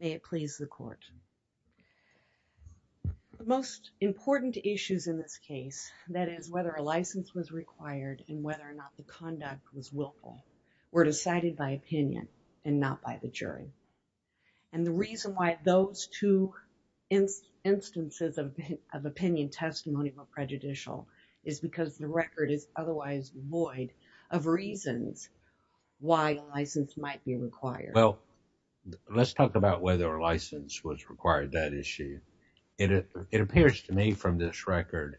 May it please the court. The most important issues in this case, that is whether a license was required and whether or not the conduct was willful, were decided by opinion and not by the jury. And the reason why those two instances of opinion testimony were prejudicial is because the record is otherwise void of reasons why a license might be required. Well, let's talk about whether a license was required, that issue. It appears to me from this record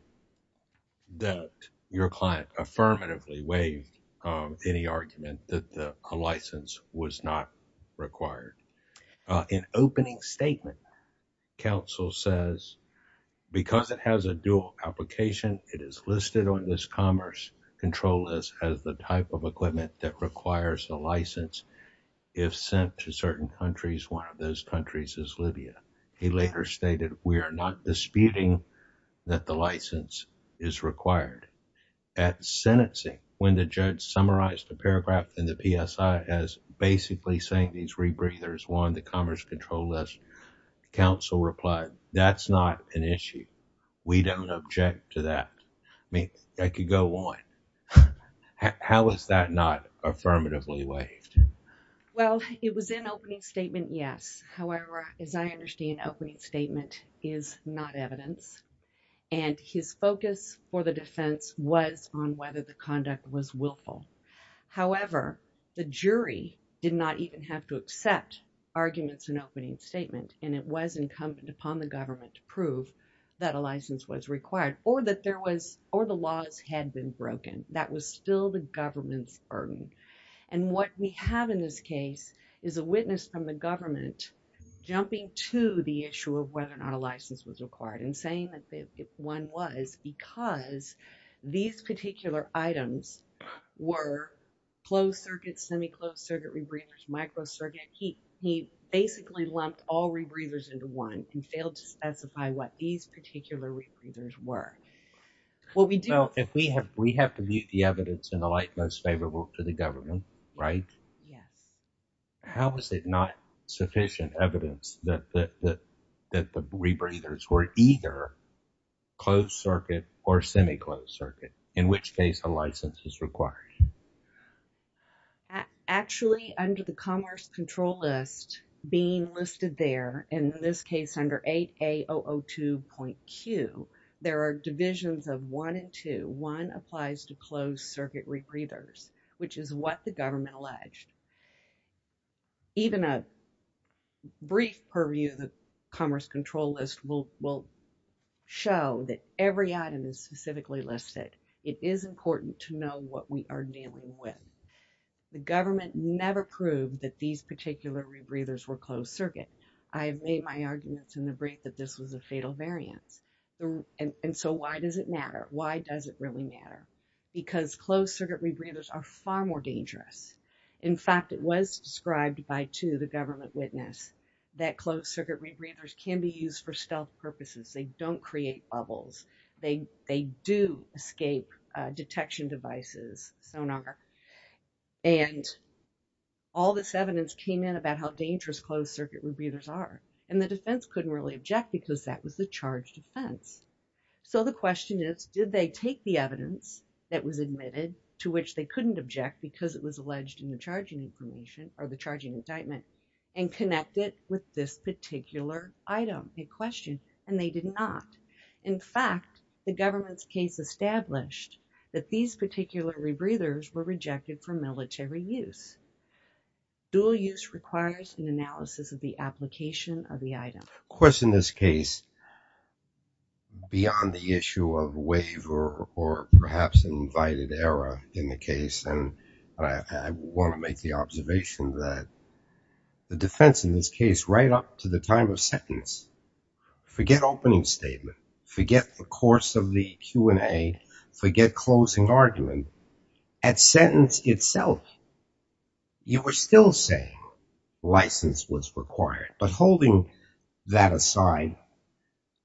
that your client affirmatively waived any argument that a license was not required. In opening statement, counsel says, because it has a dual application, it is listed on this commerce control list as the type of equipment that requires a license. If sent to certain countries, one of those countries is Libya. He later stated, we are not disputing that the license is required. At sentencing, when the judge summarized the paragraph in the PSI as basically saying these rebreathers were on the commerce control list, counsel replied, that's not an issue. We don't object to that. I mean, I could go on. How is that not affirmatively waived? Well, it was in opening statement, yes. However, as I understand, opening statement is not evidence. And his focus for the defense was on whether the conduct was willful. However, the jury did not even have to accept arguments in opening statement, and it was incumbent upon the government to prove that a license was required or that still the government's burden. And what we have in this case is a witness from the government jumping to the issue of whether or not a license was required and saying that if one was, because these particular items were closed circuit, semi-closed circuit rebreathers, micro circuit, he basically lumped all rebreathers into one and failed to specify what these particular rebreathers were. Well, we do. Well, if we have, we have to meet the evidence in the light most favorable to the government, right? Yes. How is it not sufficient evidence that the rebreathers were either closed circuit or semi-closed circuit, in which case a license is required? Actually, under the commerce control list being listed there, in this case under 8A002.Q, there are divisions of one and two. One applies to closed circuit rebreathers, which is what the government alleged. Even a brief purview of the commerce control list will show that every item is specifically listed. It is important to know what we are dealing with. The government never proved that these particular rebreathers were closed circuit. I made my arguments in the brief that this was a fatal variance. And so why does it matter? Why does it really matter? Because closed circuit rebreathers are far more dangerous. In fact, it was described by two, the government witness, that closed circuit rebreathers can be used for stealth purposes. They don't create bubbles. They do escape detection devices, sonar. And all this evidence came in about how dangerous closed circuit rebreathers are. And the defense couldn't really object because that was the charge defense. So the question is, did they take the evidence that was admitted, to which they couldn't object because it was alleged in the charging information or the charging indictment, and connect it with this particular item in question? And they did not. In fact, the government's case established that these particular rebreathers were rejected for military use. Dual use requires an analysis of the application of the item. Of course, in this case, beyond the issue of waiver or perhaps an invited error in the case, I want to make the observation that the defense in this case, right up to the time of sentence, forget opening statement, forget the course of the Q&A, forget closing argument, at sentence itself, you were still saying license was required. But holding that aside,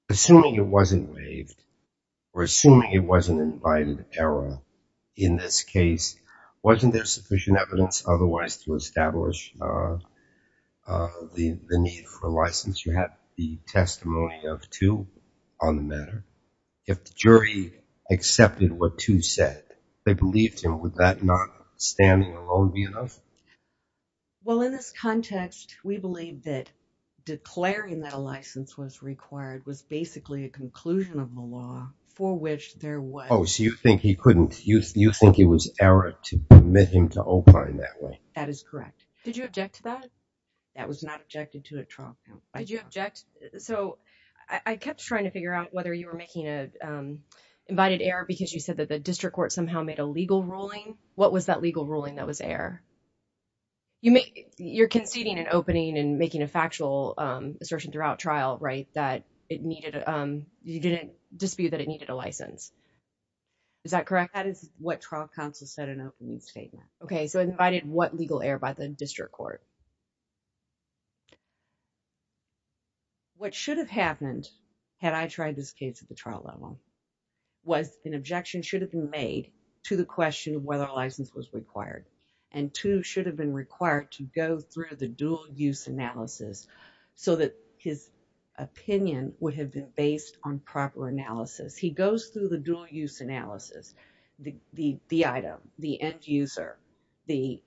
assuming it wasn't waived or assuming it wasn't invited error in this case, wasn't there sufficient evidence otherwise to establish the need for license? You had the testimony of two on the matter. If the jury accepted what two said, they believed him, would that not standing alone be enough? Well, in this context, we believe that declaring that a license was required was basically a conclusion of the law for which there was. Oh, so you think he couldn't, you think it was error to admit him to opine that way? That is correct. Did you object to that? That was not objected to a trial. Did you object? So I kept trying to figure out whether you were making a invited error because you said that the district court somehow made a legal ruling. What was that legal ruling that was error? You make, you're conceding an opening and making a factual assertion throughout trial, right? That it needed, you didn't dispute that it needed a license. Is that correct? That is what trial counsel said in opening statement. Okay, so invited what legal error by the district court? What should have happened had I tried this case at the trial level? Was an objection should have been made to the question of whether license was required and two should have been required to go through the dual use analysis so that his opinion would have been based on proper analysis. He goes through the dual use analysis, the, the, the item, the end user, the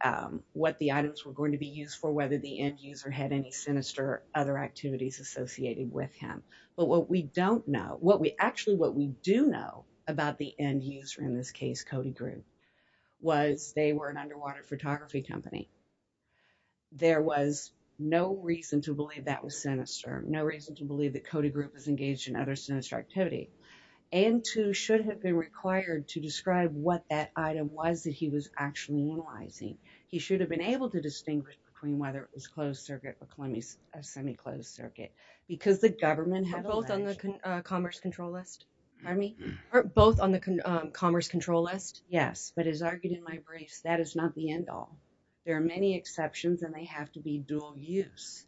what the items were going to be used for, whether the end user had any sinister other activities associated with him. But what we don't know what we actually what we do know about the end user in this case, Cody group was they were an underwater photography company. There was no reason to believe that was sinister. No reason to believe that Cody group was engaged in other sinister activity and two should have been required to describe what that item was that he was actually utilizing. He should have been able to distinguish between whether it was closed circuit or semi closed circuit because the government had both on the commerce control list. I mean, both on the commerce control list. Yes, but as argued in my briefs, that is not the end all. There are many exceptions and they have to be dual use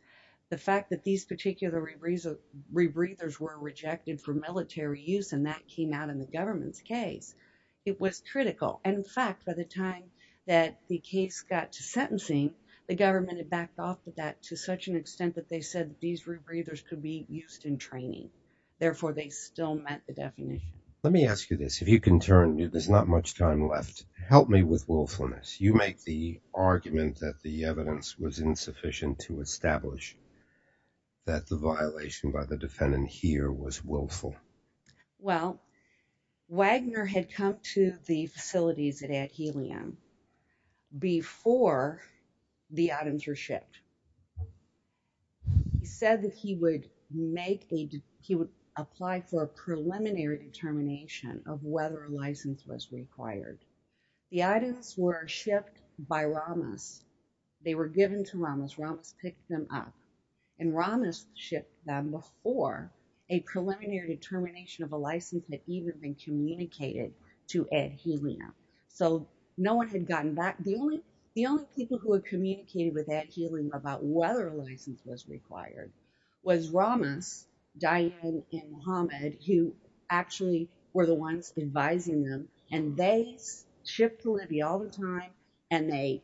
the fact that these particular reason rebreathers were rejected for military use and that came out in the government's case. It was critical and in fact, by the time that the case got to sentencing the government had backed off with that to such an extent that they said these rebreathers could be used in training. Therefore, they still met the definition. Let me ask you this. If you can turn there's not much time left. Help me with willfulness. You make the argument that the evidence was insufficient to establish that the violation by the defendant here was willful. Well, Wagner had come to the facilities at helium before the items are shipped. He said that he would make a, he would apply for a preliminary determination of whether license was required the items were shipped by Ramos, they were given to Ramos Ramos pick them up and Ramos ship them before a preliminary determination of a license that even been communicated to add healing up so no one had gotten back the only, the only people who are communicating with that healing was Ramos. The only people who were communicating about whether license was required was Ramos, Diane, and Hamid who actually were the ones advising them, and they ship to Libya all the time, and they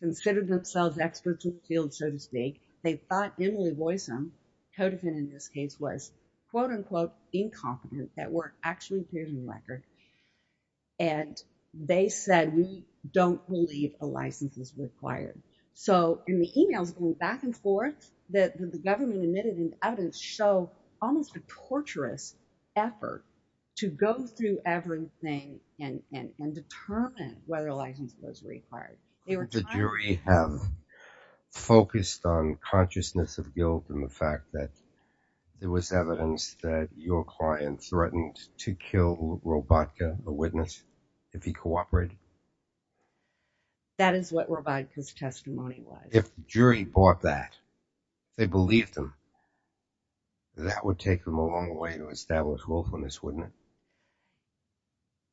considered themselves experts in the field, so to speak, they thought Emily boysome codependent in this case was, quote unquote, incompetent that weren't actually here in the record. And they said we don't believe a license is required. So, in the emails going back and forth, that the government admitted and evidence show almost a torturous effort to go through everything and determine whether license was required. The jury have focused on consciousness of guilt and the fact that it was evidence that your client threatened to kill robot the witness, if he cooperated. That is what we're about his testimony, if jury bought that they believe them. That would take them a long way to establish willfulness wouldn't.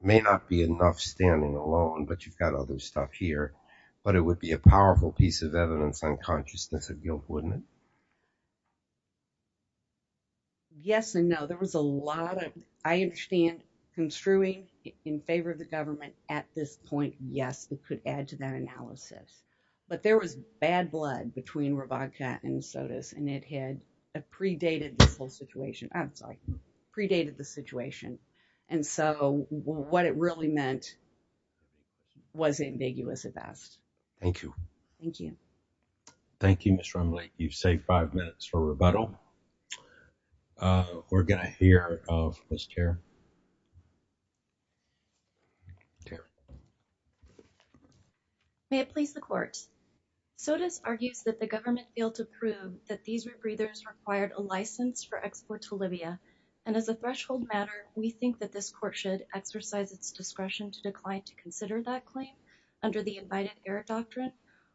May not be enough standing alone, but you've got other stuff here, but it would be a powerful piece of evidence on consciousness of guilt. Wouldn't it. Yes, and no, there was a lot of, I understand construing in favor of the government at this point. Yes, it could add to that analysis. But there was bad blood between and so does and it had a predated whole situation outside predated the situation. And so what it really meant. Was ambiguous at best. Thank you. Thank you. Thank you. Mr. Emily. You've saved 5 minutes for rebuttal. We're going to hear of this chair. May it please the court. So does argues that the government failed to prove that these were breeders required a license for export to Libya. And as a threshold matter, we think that this court should exercise its discretion to decline to consider that claim. Under the invited air doctrine,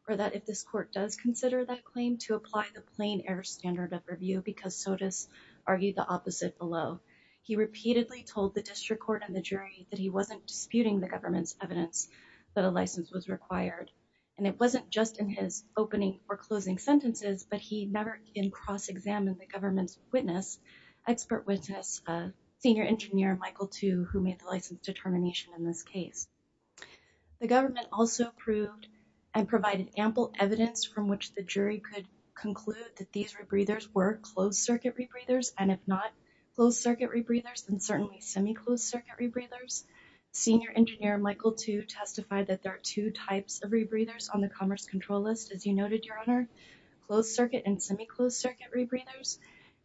or that if this court does consider that claim to apply the plane air standard of review, because so does. Argue the opposite below. He repeatedly told the district court and the jury that he wasn't disputing the government's evidence that a license was required. And it wasn't just in his opening or closing sentences, but he never in cross examine the government's witness. Expert witness senior engineer Michael to who made the license determination in this case. The government also proved and provided ample evidence from which the jury could conclude that these were breeders were closed circuit breeders. And if not closed circuit rebreathers, then certainly semi closed circuit rebreathers. Senior engineer Michael to testify that there are 2 types of rebreathers on the commerce control list. As you noted, your honor, closed circuit and semi closed circuit rebreathers.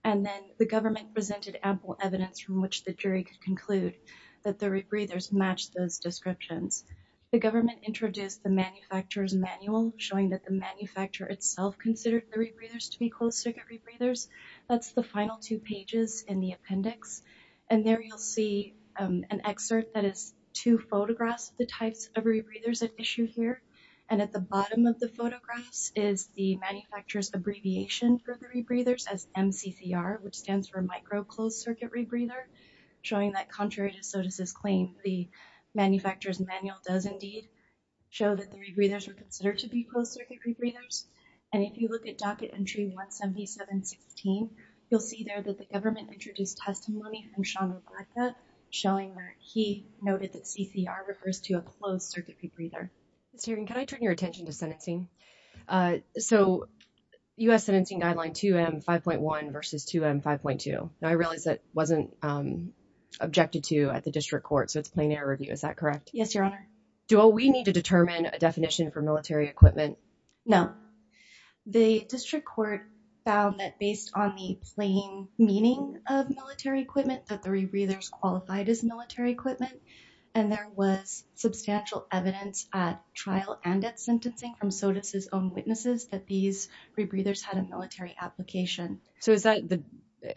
And then the government presented ample evidence from which the jury could conclude that the rebreathers match those descriptions. The government introduced the manufacturers manual, showing that the manufacturer itself considered the rebreathers to be closed circuit rebreathers. That's the final 2 pages in the appendix and there you'll see an excerpt that is 2 photographs. There's an issue here, and at the bottom of the photographs is the manufacturers abbreviation for the rebreathers as which stands for micro closed circuit rebreather showing that contrary to. So, does this claim the manufacturers manual does indeed show that the rebreathers are considered to be closed circuit rebreathers and if you look at docket entry 17716, you'll see there that the government introduced testimony. Showing that he noted that CCR refers to a closed circuit rebreather can I turn your attention to sentencing so US sentencing guideline to M5.1 versus to M5.2 and I realize that wasn't objected to at the district court. So it's plain air review. Is that correct? Yes, your honor. Do we need to determine a definition for military equipment? No, the district court found that based on the plain meaning of military equipment that the rebreathers qualified as military equipment and there was substantial evidence at trial and at sentencing from sodas his own witnesses that these rebreathers had a military application. So, is that the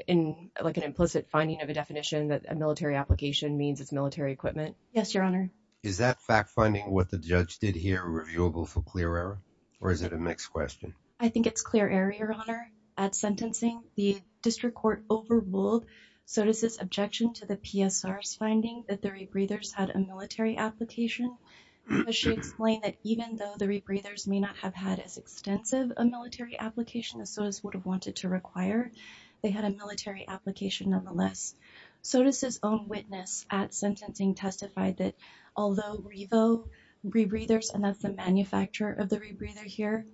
in like an implicit finding of a definition that a military application means it's military equipment? Yes, your honor. Is that fact finding what the judge did here reviewable for clear error? Or is it a mixed question? I think it's clear area your honor at sentencing the district court overruled. So does this objection to the PSRs finding that the rebreathers had a military application? But she explained that even though the rebreathers may not have had as extensive a military application as sodas would have wanted to require they had a military application. So does his own witness at sentencing testified that although revo rebreathers and that's the manufacturer of the rebreather here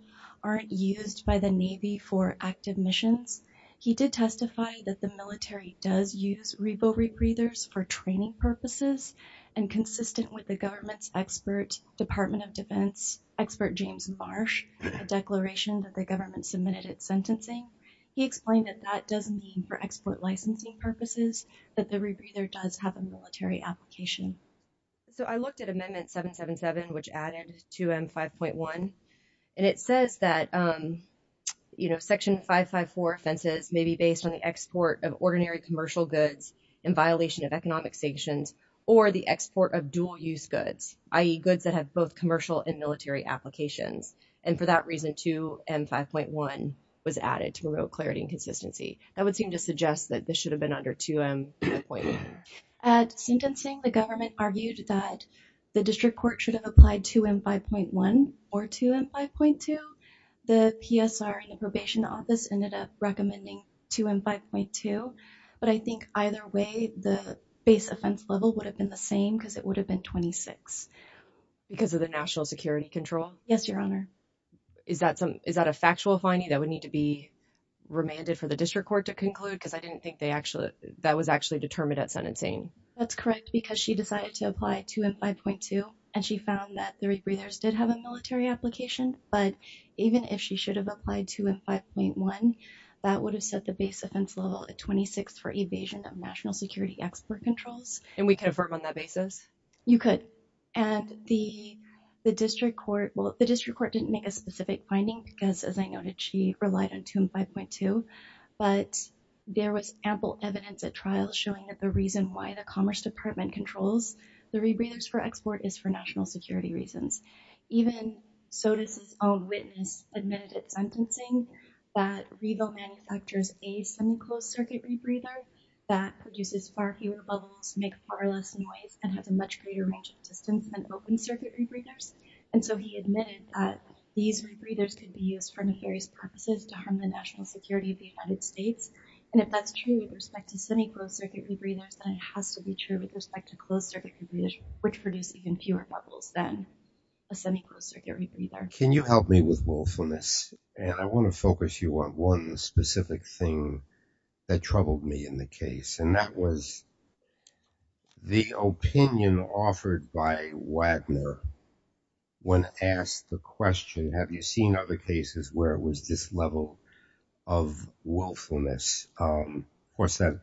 aren't used by the navy for active missions. He did testify that the military does use revo rebreathers for training purposes and consistent with the government's expert department of defense expert James marsh declaration that the government submitted its sentencing. He explained that that doesn't mean for export licensing purposes that the rebreather does have a military application. So, I looked at amendment 777, which added to M5.1 and it says that, you know, section 554 offenses may be based on the export of ordinary commercial goods in violation of economic sanctions or the export of dual use goods. IE goods that have both commercial and military applications. And for that reason to M5.1 was added to promote clarity and consistency. That would seem to suggest that this should have been under 2M. At sentencing the government argued that the district court should have applied 2M 5.1 or 2M 5.2. The PSR and the probation office ended up recommending 2M 5.2, but I think either way the base offense level would have been the same because it would have been 26. Because of the national security control. Yes, your honor. Is that a factual finding that would need to be remanded for the district court to conclude? Because I didn't think that was actually determined at sentencing. That's correct because she decided to apply 2M 5.2 and she found that the rebreathers did have a military application. But even if she should have applied 2M 5.1, that would have set the base offense level at 26 for evasion of national security export controls. And we can affirm on that basis? You could. And the district court didn't make a specific finding because, as I noted, she relied on 2M 5.2. But there was ample evidence at trial showing that the reason why the commerce department controls the rebreathers for export is for national security reasons. Even SOTUS' own witness admitted at sentencing that Regal manufactures a semi-closed circuit rebreather that produces far fewer bubbles, make far less noise, and has a much greater range of distance than open circuit rebreathers. And so he admitted that these rebreathers could be used for nefarious purposes to harm the national security of the United States. And if that's true with respect to semi-closed circuit rebreathers, then it has to be true with respect to closed circuit rebreathers, which produce even fewer bubbles then. A semi-closed circuit rebreather. Can you help me with willfulness? And I want to focus you on one specific thing that troubled me in the case. And that was the opinion offered by Wagner when asked the question, have you seen other cases where it was this level of willfulness? Of course that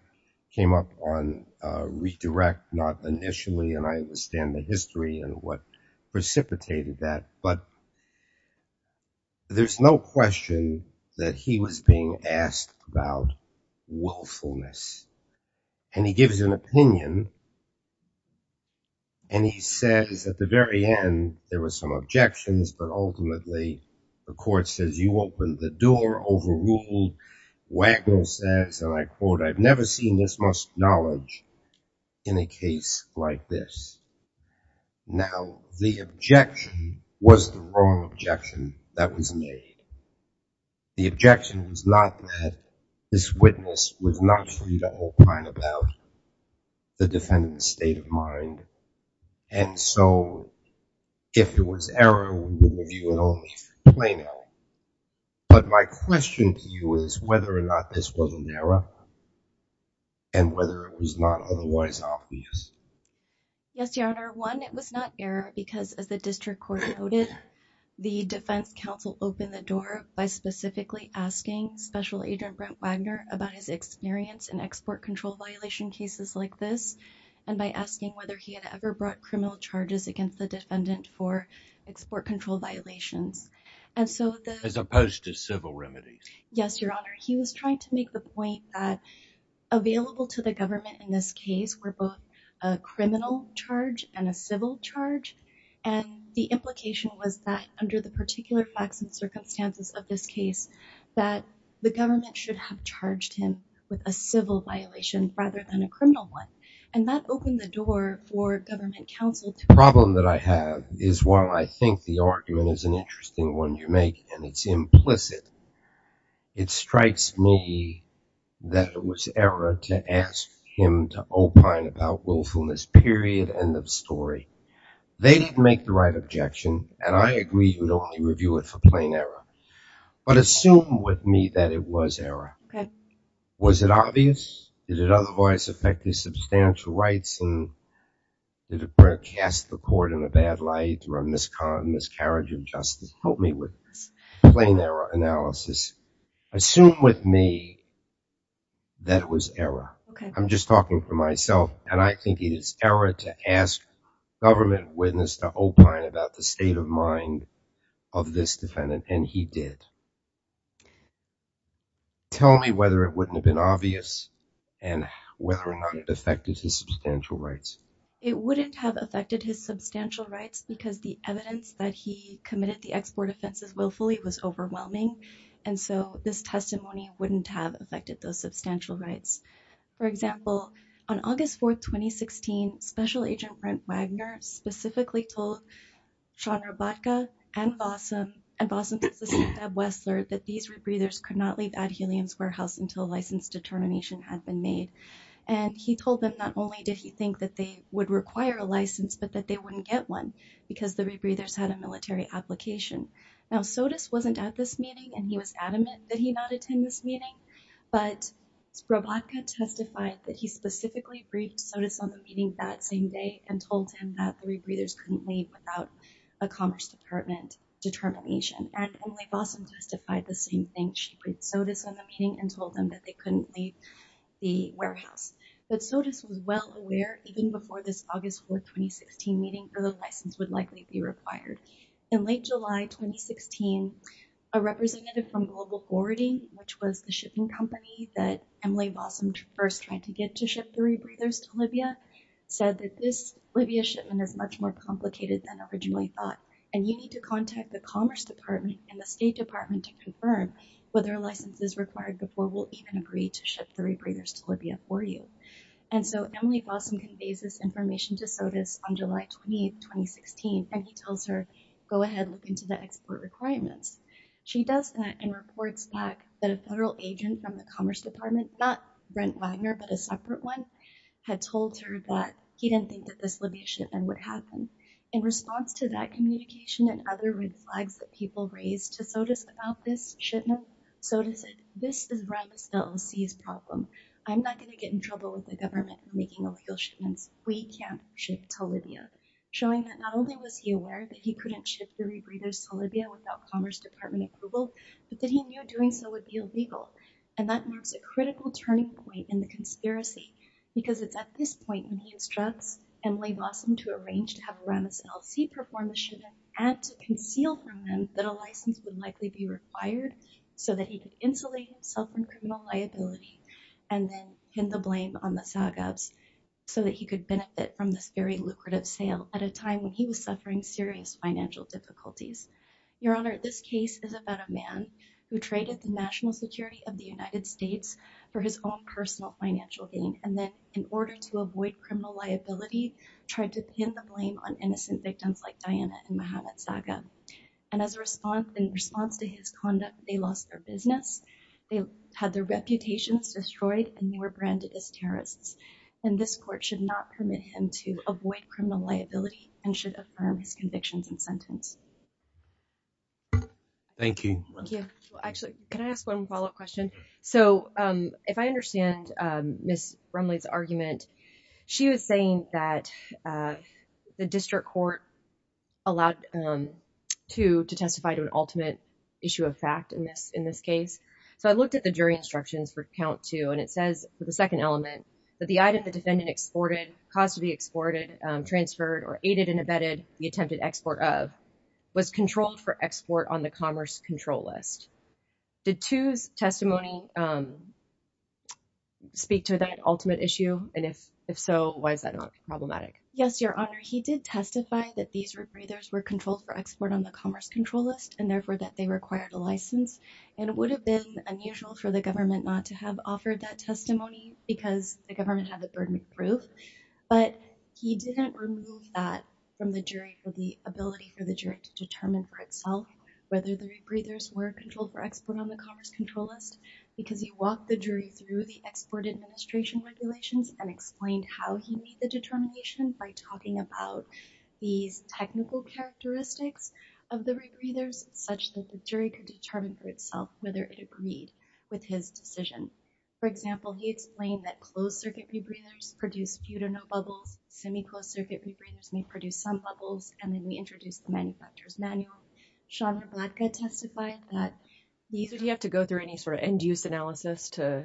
came up on redirect, not initially, and I understand the history and what precipitated that, but there's no question that he was being asked about willfulness. And he gives an opinion. And he says at the very end, there were some objections, but ultimately the court says you opened the door, overruled, Wagner says, and I quote, I've never seen this much knowledge in a case like this. Now, the objection was the wrong objection that was made. The objection was not that this witness was not free to hold client about the defendant's state of mind, and so if it was error, we would review it only for plain error. But my question to you is whether or not this was an error, and whether it was not otherwise obvious. Yes, Your Honor. One, it was not error, because as the district court noted, the defense counsel opened the door by specifically asking Special Agent Brent Wagner about his experience in export control violation cases like this, and by asking whether he had ever brought criminal charges against the defendant for export control violations. As opposed to civil remedies. Yes, Your Honor. He was trying to make the point that available to the government in this case were both a criminal charge and a civil charge, and the implication was that under the particular facts and circumstances of this case, that the government should have charged him with a civil violation rather than a criminal one. And that opened the door for government counsel to... The problem that I have is while I think the argument is an interesting one you make, and it's implicit, it strikes me that it was error to ask him to opine about willfulness, period, end of story. They didn't make the right objection, and I agree you would only review it for plain error. But assume with me that it was error. Was it obvious? Did it otherwise affect his substantial rights? Did it cast the court in a bad light or a miscarriage of justice? Help me with this plain error analysis. Assume with me that it was error. I'm just talking for myself, and I think it is error to ask government witness to opine about the state of mind of this defendant, and he did. Tell me whether it wouldn't have been obvious and whether or not it affected his substantial rights. It wouldn't have affected his substantial rights because the evidence that he committed the export offenses willfully was overwhelming, and so this testimony wouldn't have affected those substantial rights. For example, on August 4th, 2016, Special Agent Brent Wagner specifically told Sean Robotka and Vossum and Vossum's assistant, Deb Wessler, that these rebreathers could not leave Ad Helium's warehouse until a license determination had been made. And he told them not only did he think that they would require a license, but that they wouldn't get one because the rebreathers had a military application. Now, SOTUS wasn't at this meeting, and he was adamant that he not attend this meeting, but Robotka testified that he specifically briefed SOTUS on the meeting that same day and told him that the rebreathers couldn't leave without a Commerce Department determination. And Emily Vossum testified the same thing. She briefed SOTUS on the meeting and told them that they couldn't leave the warehouse. But SOTUS was well aware even before this August 4th, 2016 meeting that a license would likely be required. In late July, 2016, a representative from Global Forwarding, which was the shipping company that Emily Vossum first tried to get to ship the rebreathers to Libya, said that this Libya shipment is much more complicated than originally thought, and you need to contact the Commerce Department and the State Department to confirm whether a license is required before we'll even agree to ship the rebreathers to Libya for you. And so Emily Vossum conveys this information to SOTUS on July 28th, 2016, and he tells her, go ahead, look into the export requirements. She does that and reports back that a federal agent from the Commerce Department, not Brent Wagner, but a separate one, had told her that he didn't think that this Libya shipment would happen. In response to that communication and other red flags that people raised to SOTUS about this shipment, SOTUS said, this is rather still a seized problem. I'm not going to get in trouble with the government for making ill-feel shipments. We can't ship to Libya. Showing that not only was he aware that he couldn't ship the rebreathers to Libya without Commerce Department approval, but that he knew doing so would be illegal. And that marks a critical turning point in the conspiracy, because it's at this point when he instructs Emily Vossum to arrange to have a renaissance. He performed the shipment and to conceal from them that a license would likely be required so that he could insulate himself from criminal liability and then pin the blame on the Saagabs so that he could benefit from this very lucrative sale at a time when he was suffering serious financial difficulties. Your Honor, this case is about a man who traded the national security of the United States for his own personal financial gain and then, in order to avoid criminal liability, tried to pin the blame on innocent victims like Diana and Mohamed Saagab. And as a response, in response to his conduct, they lost their business. They had their reputations destroyed and they were branded as terrorists. And this court should not permit him to avoid criminal liability and should affirm his convictions and sentence. Thank you. Thank you. Actually, can I ask one follow-up question? So, if I understand Ms. Rumley's argument, she was saying that the district court allowed to testify to an ultimate issue of fact in this case. So, I looked at the jury instructions for count two and it says, for the second element, that the item the defendant exported, caused to be exported, transferred, or aided and abetted the attempted export of was controlled for export on the commerce control list. Did Tu's testimony speak to that ultimate issue? And if so, why is that not problematic? Yes, Your Honor. He did testify that these rebreathers were controlled for export on the commerce control list and, therefore, that they required a license. And it would have been unusual for the government not to have offered that testimony because the government had the burden of proof. But he didn't remove that from the jury for the ability for the jury to determine for itself whether the rebreathers were controlled for export on the commerce control list. Because he walked the jury through the export administration regulations and explained how he made the determination by talking about these technical characteristics of the rebreathers such that the jury could determine for itself whether it agreed with his decision. For example, he explained that closed-circuit rebreathers produce few to no bubbles, semi-closed-circuit rebreathers may produce some bubbles, and then he introduced the manufacturer's manual. Sean Rablatka testified that these... Did he have to go through any sort of end-use analysis to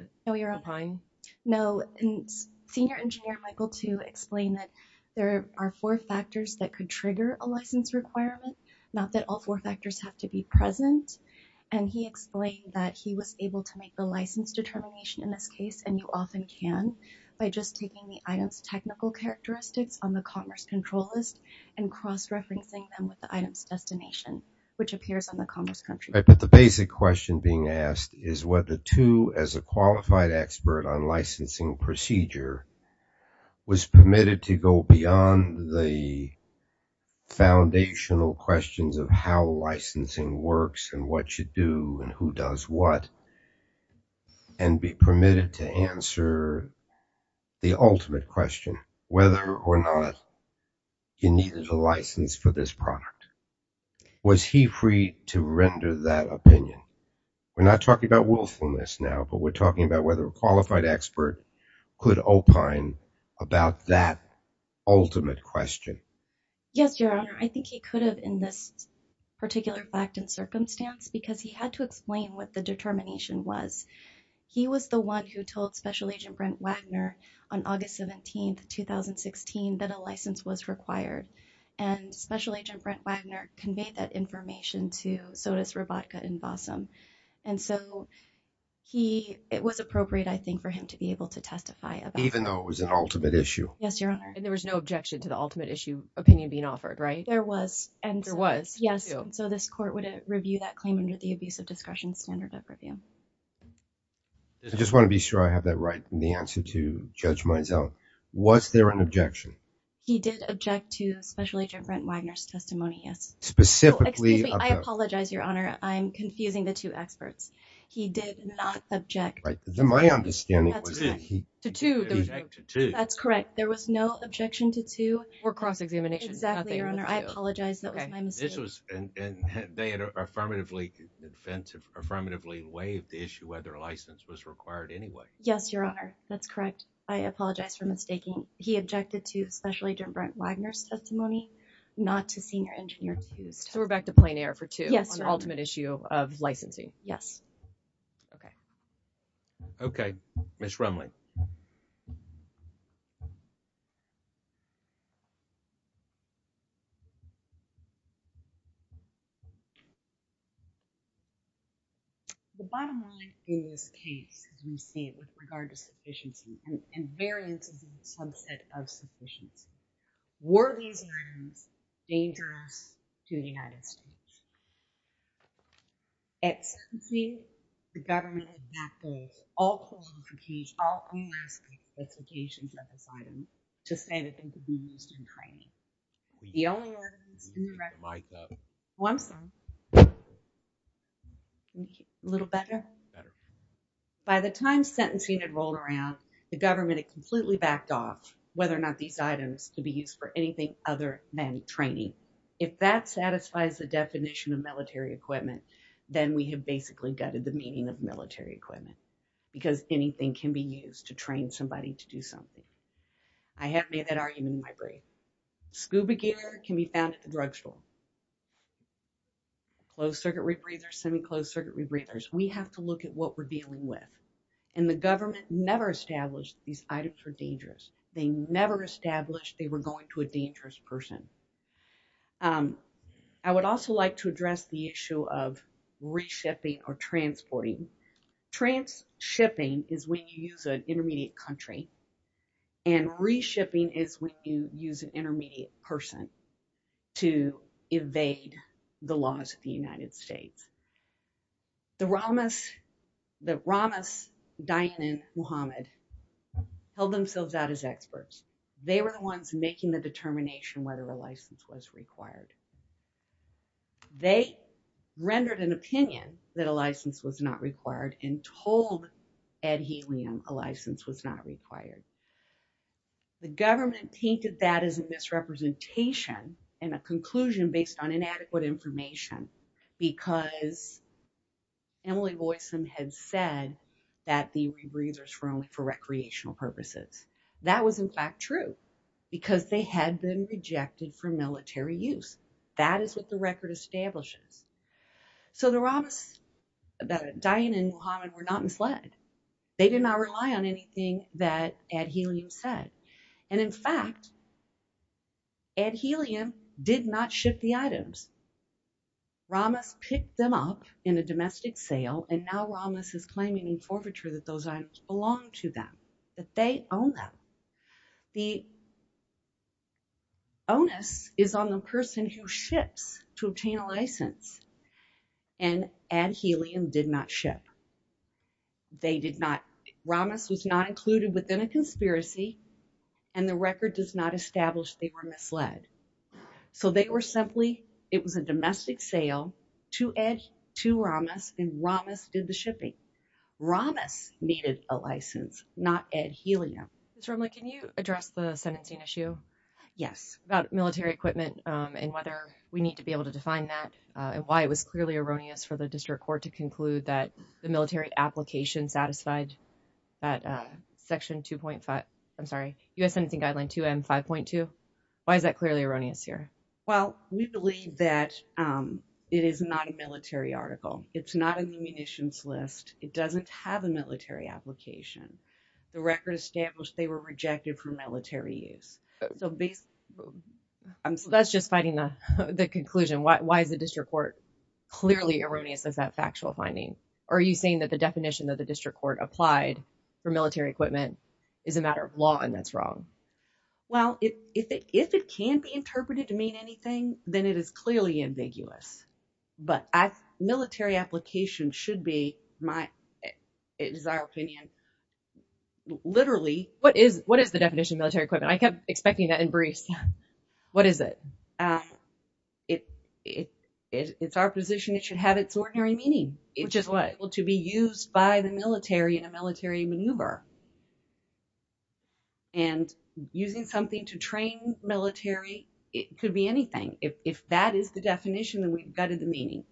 find... No, Senior Engineer Michael Tu explained that there are four factors that could trigger a license requirement, not that all four factors have to be present. And he explained that he was able to make the license determination in this case, and you often can, by just taking the item's technical characteristics on the commerce control list and cross-referencing them with the item's destination, which appears on the commerce control list. But the basic question being asked is whether Tu, as a qualified expert on licensing procedure, was permitted to go beyond the foundational questions of how licensing works and what you do and who does what, and be permitted to answer the ultimate question, whether or not he needed a license for this product. Was he free to render that opinion? We're not talking about willfulness now, but we're talking about whether a qualified expert could opine about that ultimate question. Yes, Your Honor, I think he could have in this particular fact and circumstance, because he had to explain what the determination was. He was the one who told Special Agent Brent Wagner on August 17th, 2016, that a license was required. And Special Agent Brent Wagner conveyed that information to Sotus, Robotka, and Bossom. And so, it was appropriate, I think, for him to be able to testify about that. Even though it was an ultimate issue? Yes, Your Honor. And there was no objection to the ultimate issue opinion being offered, right? There was. There was? Yes. So, this court would review that claim under the Abusive Discretion Standard of Review. I just want to be sure I have that right in the answer to Judge Mizell. Was there an objection? He did object to Special Agent Brent Wagner's testimony, yes. Specifically? Excuse me. I apologize, Your Honor. I'm confusing the two experts. He did not object. Right. My understanding was that he… Objected to. Objected to. That's correct. There was no objection to two… Or cross-examination. Exactly, Your Honor. I apologize. That was my mistake. This was… And they had affirmatively… The defense had affirmatively waived the issue whether a license was required anyway. Yes, Your Honor. That's correct. I apologize for mistaking. He objected to Special Agent Brent Wagner's testimony, not to Senior Engineer Fust. So, we're back to plain air for two? Yes, Your Honor. On the ultimate issue of licensing? Yes. Okay. Okay. Ms. Rumley. The bottom line in this case, as we see it, with regard to sufficiency and variances in the subset of sufficiency, were these items dangerous to the United States? At sentencing, the government backed off all qualifications, all unmasking specifications of this item to say that they could be used in training. The only evidence… Mic up. Oh, I'm sorry. A little better? Better. By the time sentencing had rolled around, the government had completely backed off whether or not these items could be used for anything other than training. If that satisfies the definition of military equipment, then we have basically gutted the meaning of military equipment, because anything can be used to train somebody to do something. I have made that argument in my brief. Scuba gear can be found at the drugstore. Closed-circuit rebreathers, semi-closed-circuit rebreathers. We have to look at what we're dealing with, and the government never established these items were dangerous. They never established they were going to a dangerous person. I would also like to address the issue of reshipping or transporting. Transshipping is when you use an intermediate country, and reshipping is when you use an intermediate person to evade the laws of the United States. The Ramas, the Ramas, Dayan and Muhammad, held themselves out as experts. They were the ones making the determination whether a license was required. They rendered an opinion that a license was not required and told Ed Helium a license was not required. The government painted that as a misrepresentation and a conclusion based on inadequate information because Emily Boysen had said that the rebreathers were only for recreational purposes. That was in fact true, because they had been rejected for military use. That is what the record establishes. So the Ramas, Dayan and Muhammad, were not misled. They did not rely on anything that Ed Helium said, and in fact, Ed Helium did not ship the items. Ramas picked them up in a domestic sale, and now Ramas is claiming in forfeiture that those items belong to them, that they own them. The onus is on the person who ships to obtain a license, and Ed Helium did not ship. They did not, Ramas was not included within a conspiracy, and the record does not establish they were misled. So they were simply, it was a domestic sale to Ed, to Ramas, and Ramas did the shipping. Ramas needed a license, not Ed Helium. Ms. Rumley, can you address the sentencing issue? Yes. About military equipment and whether we need to be able to define that, and why it was clearly erroneous for the district court to conclude that the military application satisfied that section 2.5, I'm sorry, U.S. Sentencing Guideline 2M 5.2. Why is that clearly erroneous here? Well, we believe that it is not a military article. It's not a munitions list. It doesn't have a military application. The record established they were rejected for military use. So basically... So that's just fighting the conclusion. Why is the district court clearly erroneous as that factual finding? Or are you saying that the definition that the district court applied for military equipment is a matter of law and that's wrong? Well, if it can't be interpreted to mean anything, then it is clearly ambiguous. But military application should be, in our opinion, literally... What is the definition of military equipment? I kept expecting that in briefs. What is it? It's our position it should have its ordinary meaning. Which is what? To be used by the military in a military maneuver. And using something to train military, it could be anything. If that is the definition, then we've gutted the meaning.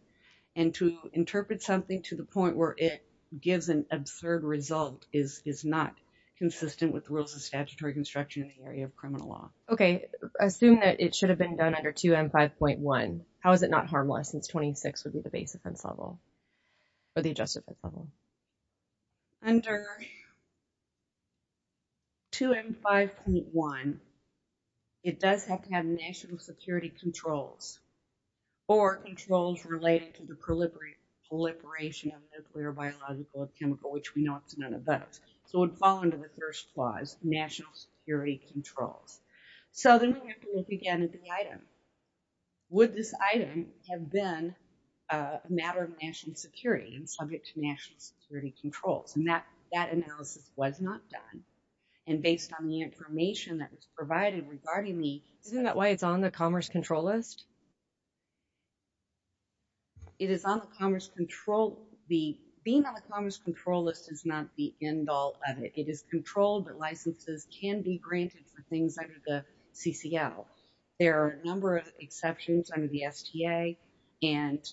And to interpret something to the point where it gives an absurd result is not consistent with the rules of statutory construction in the area of criminal law. Okay. Assume that it should have been done under 2M 5.1. How is it not harmless since 26 would be the base offense level? Or the adjustment level? Under 2M 5.1, it does have to have national security controls or controls related to the proliferation of nuclear, biological, or chemical, which we know it's none of those. So it would fall under the first clause, national security controls. So then we have to look again at the item. Would this item have been a matter of national security and subject to national security controls? And that analysis was not done. And based on the information that was provided regarding the... Isn't that why it's on the Commerce Control List? It is on the Commerce Control... Being on the Commerce Control List is not the end all of it. It is controlled, but licenses can be granted for things under the CCL. There are a number of exceptions under the STA. And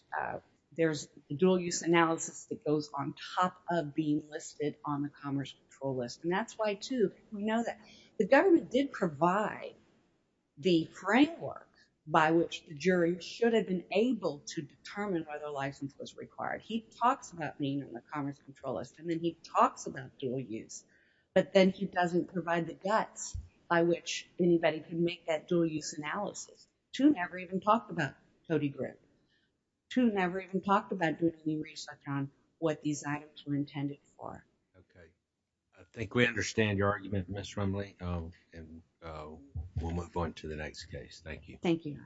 there's a dual-use analysis that goes on top of being listed on the Commerce Control List. And that's why, too, we know that the government did provide the framework by which the jury should have been able to determine whether a license was required. He talks about being on the Commerce Control List, and then he talks about dual use, but then he doesn't provide the guts by which anybody can make that dual-use analysis. Two never even talked about Cody Grip. Two never even talked about doing any research on what these items were intended for. Okay. I think we understand your argument, Ms. Rumley, and we'll move on to the next case. Thank you. Thank you.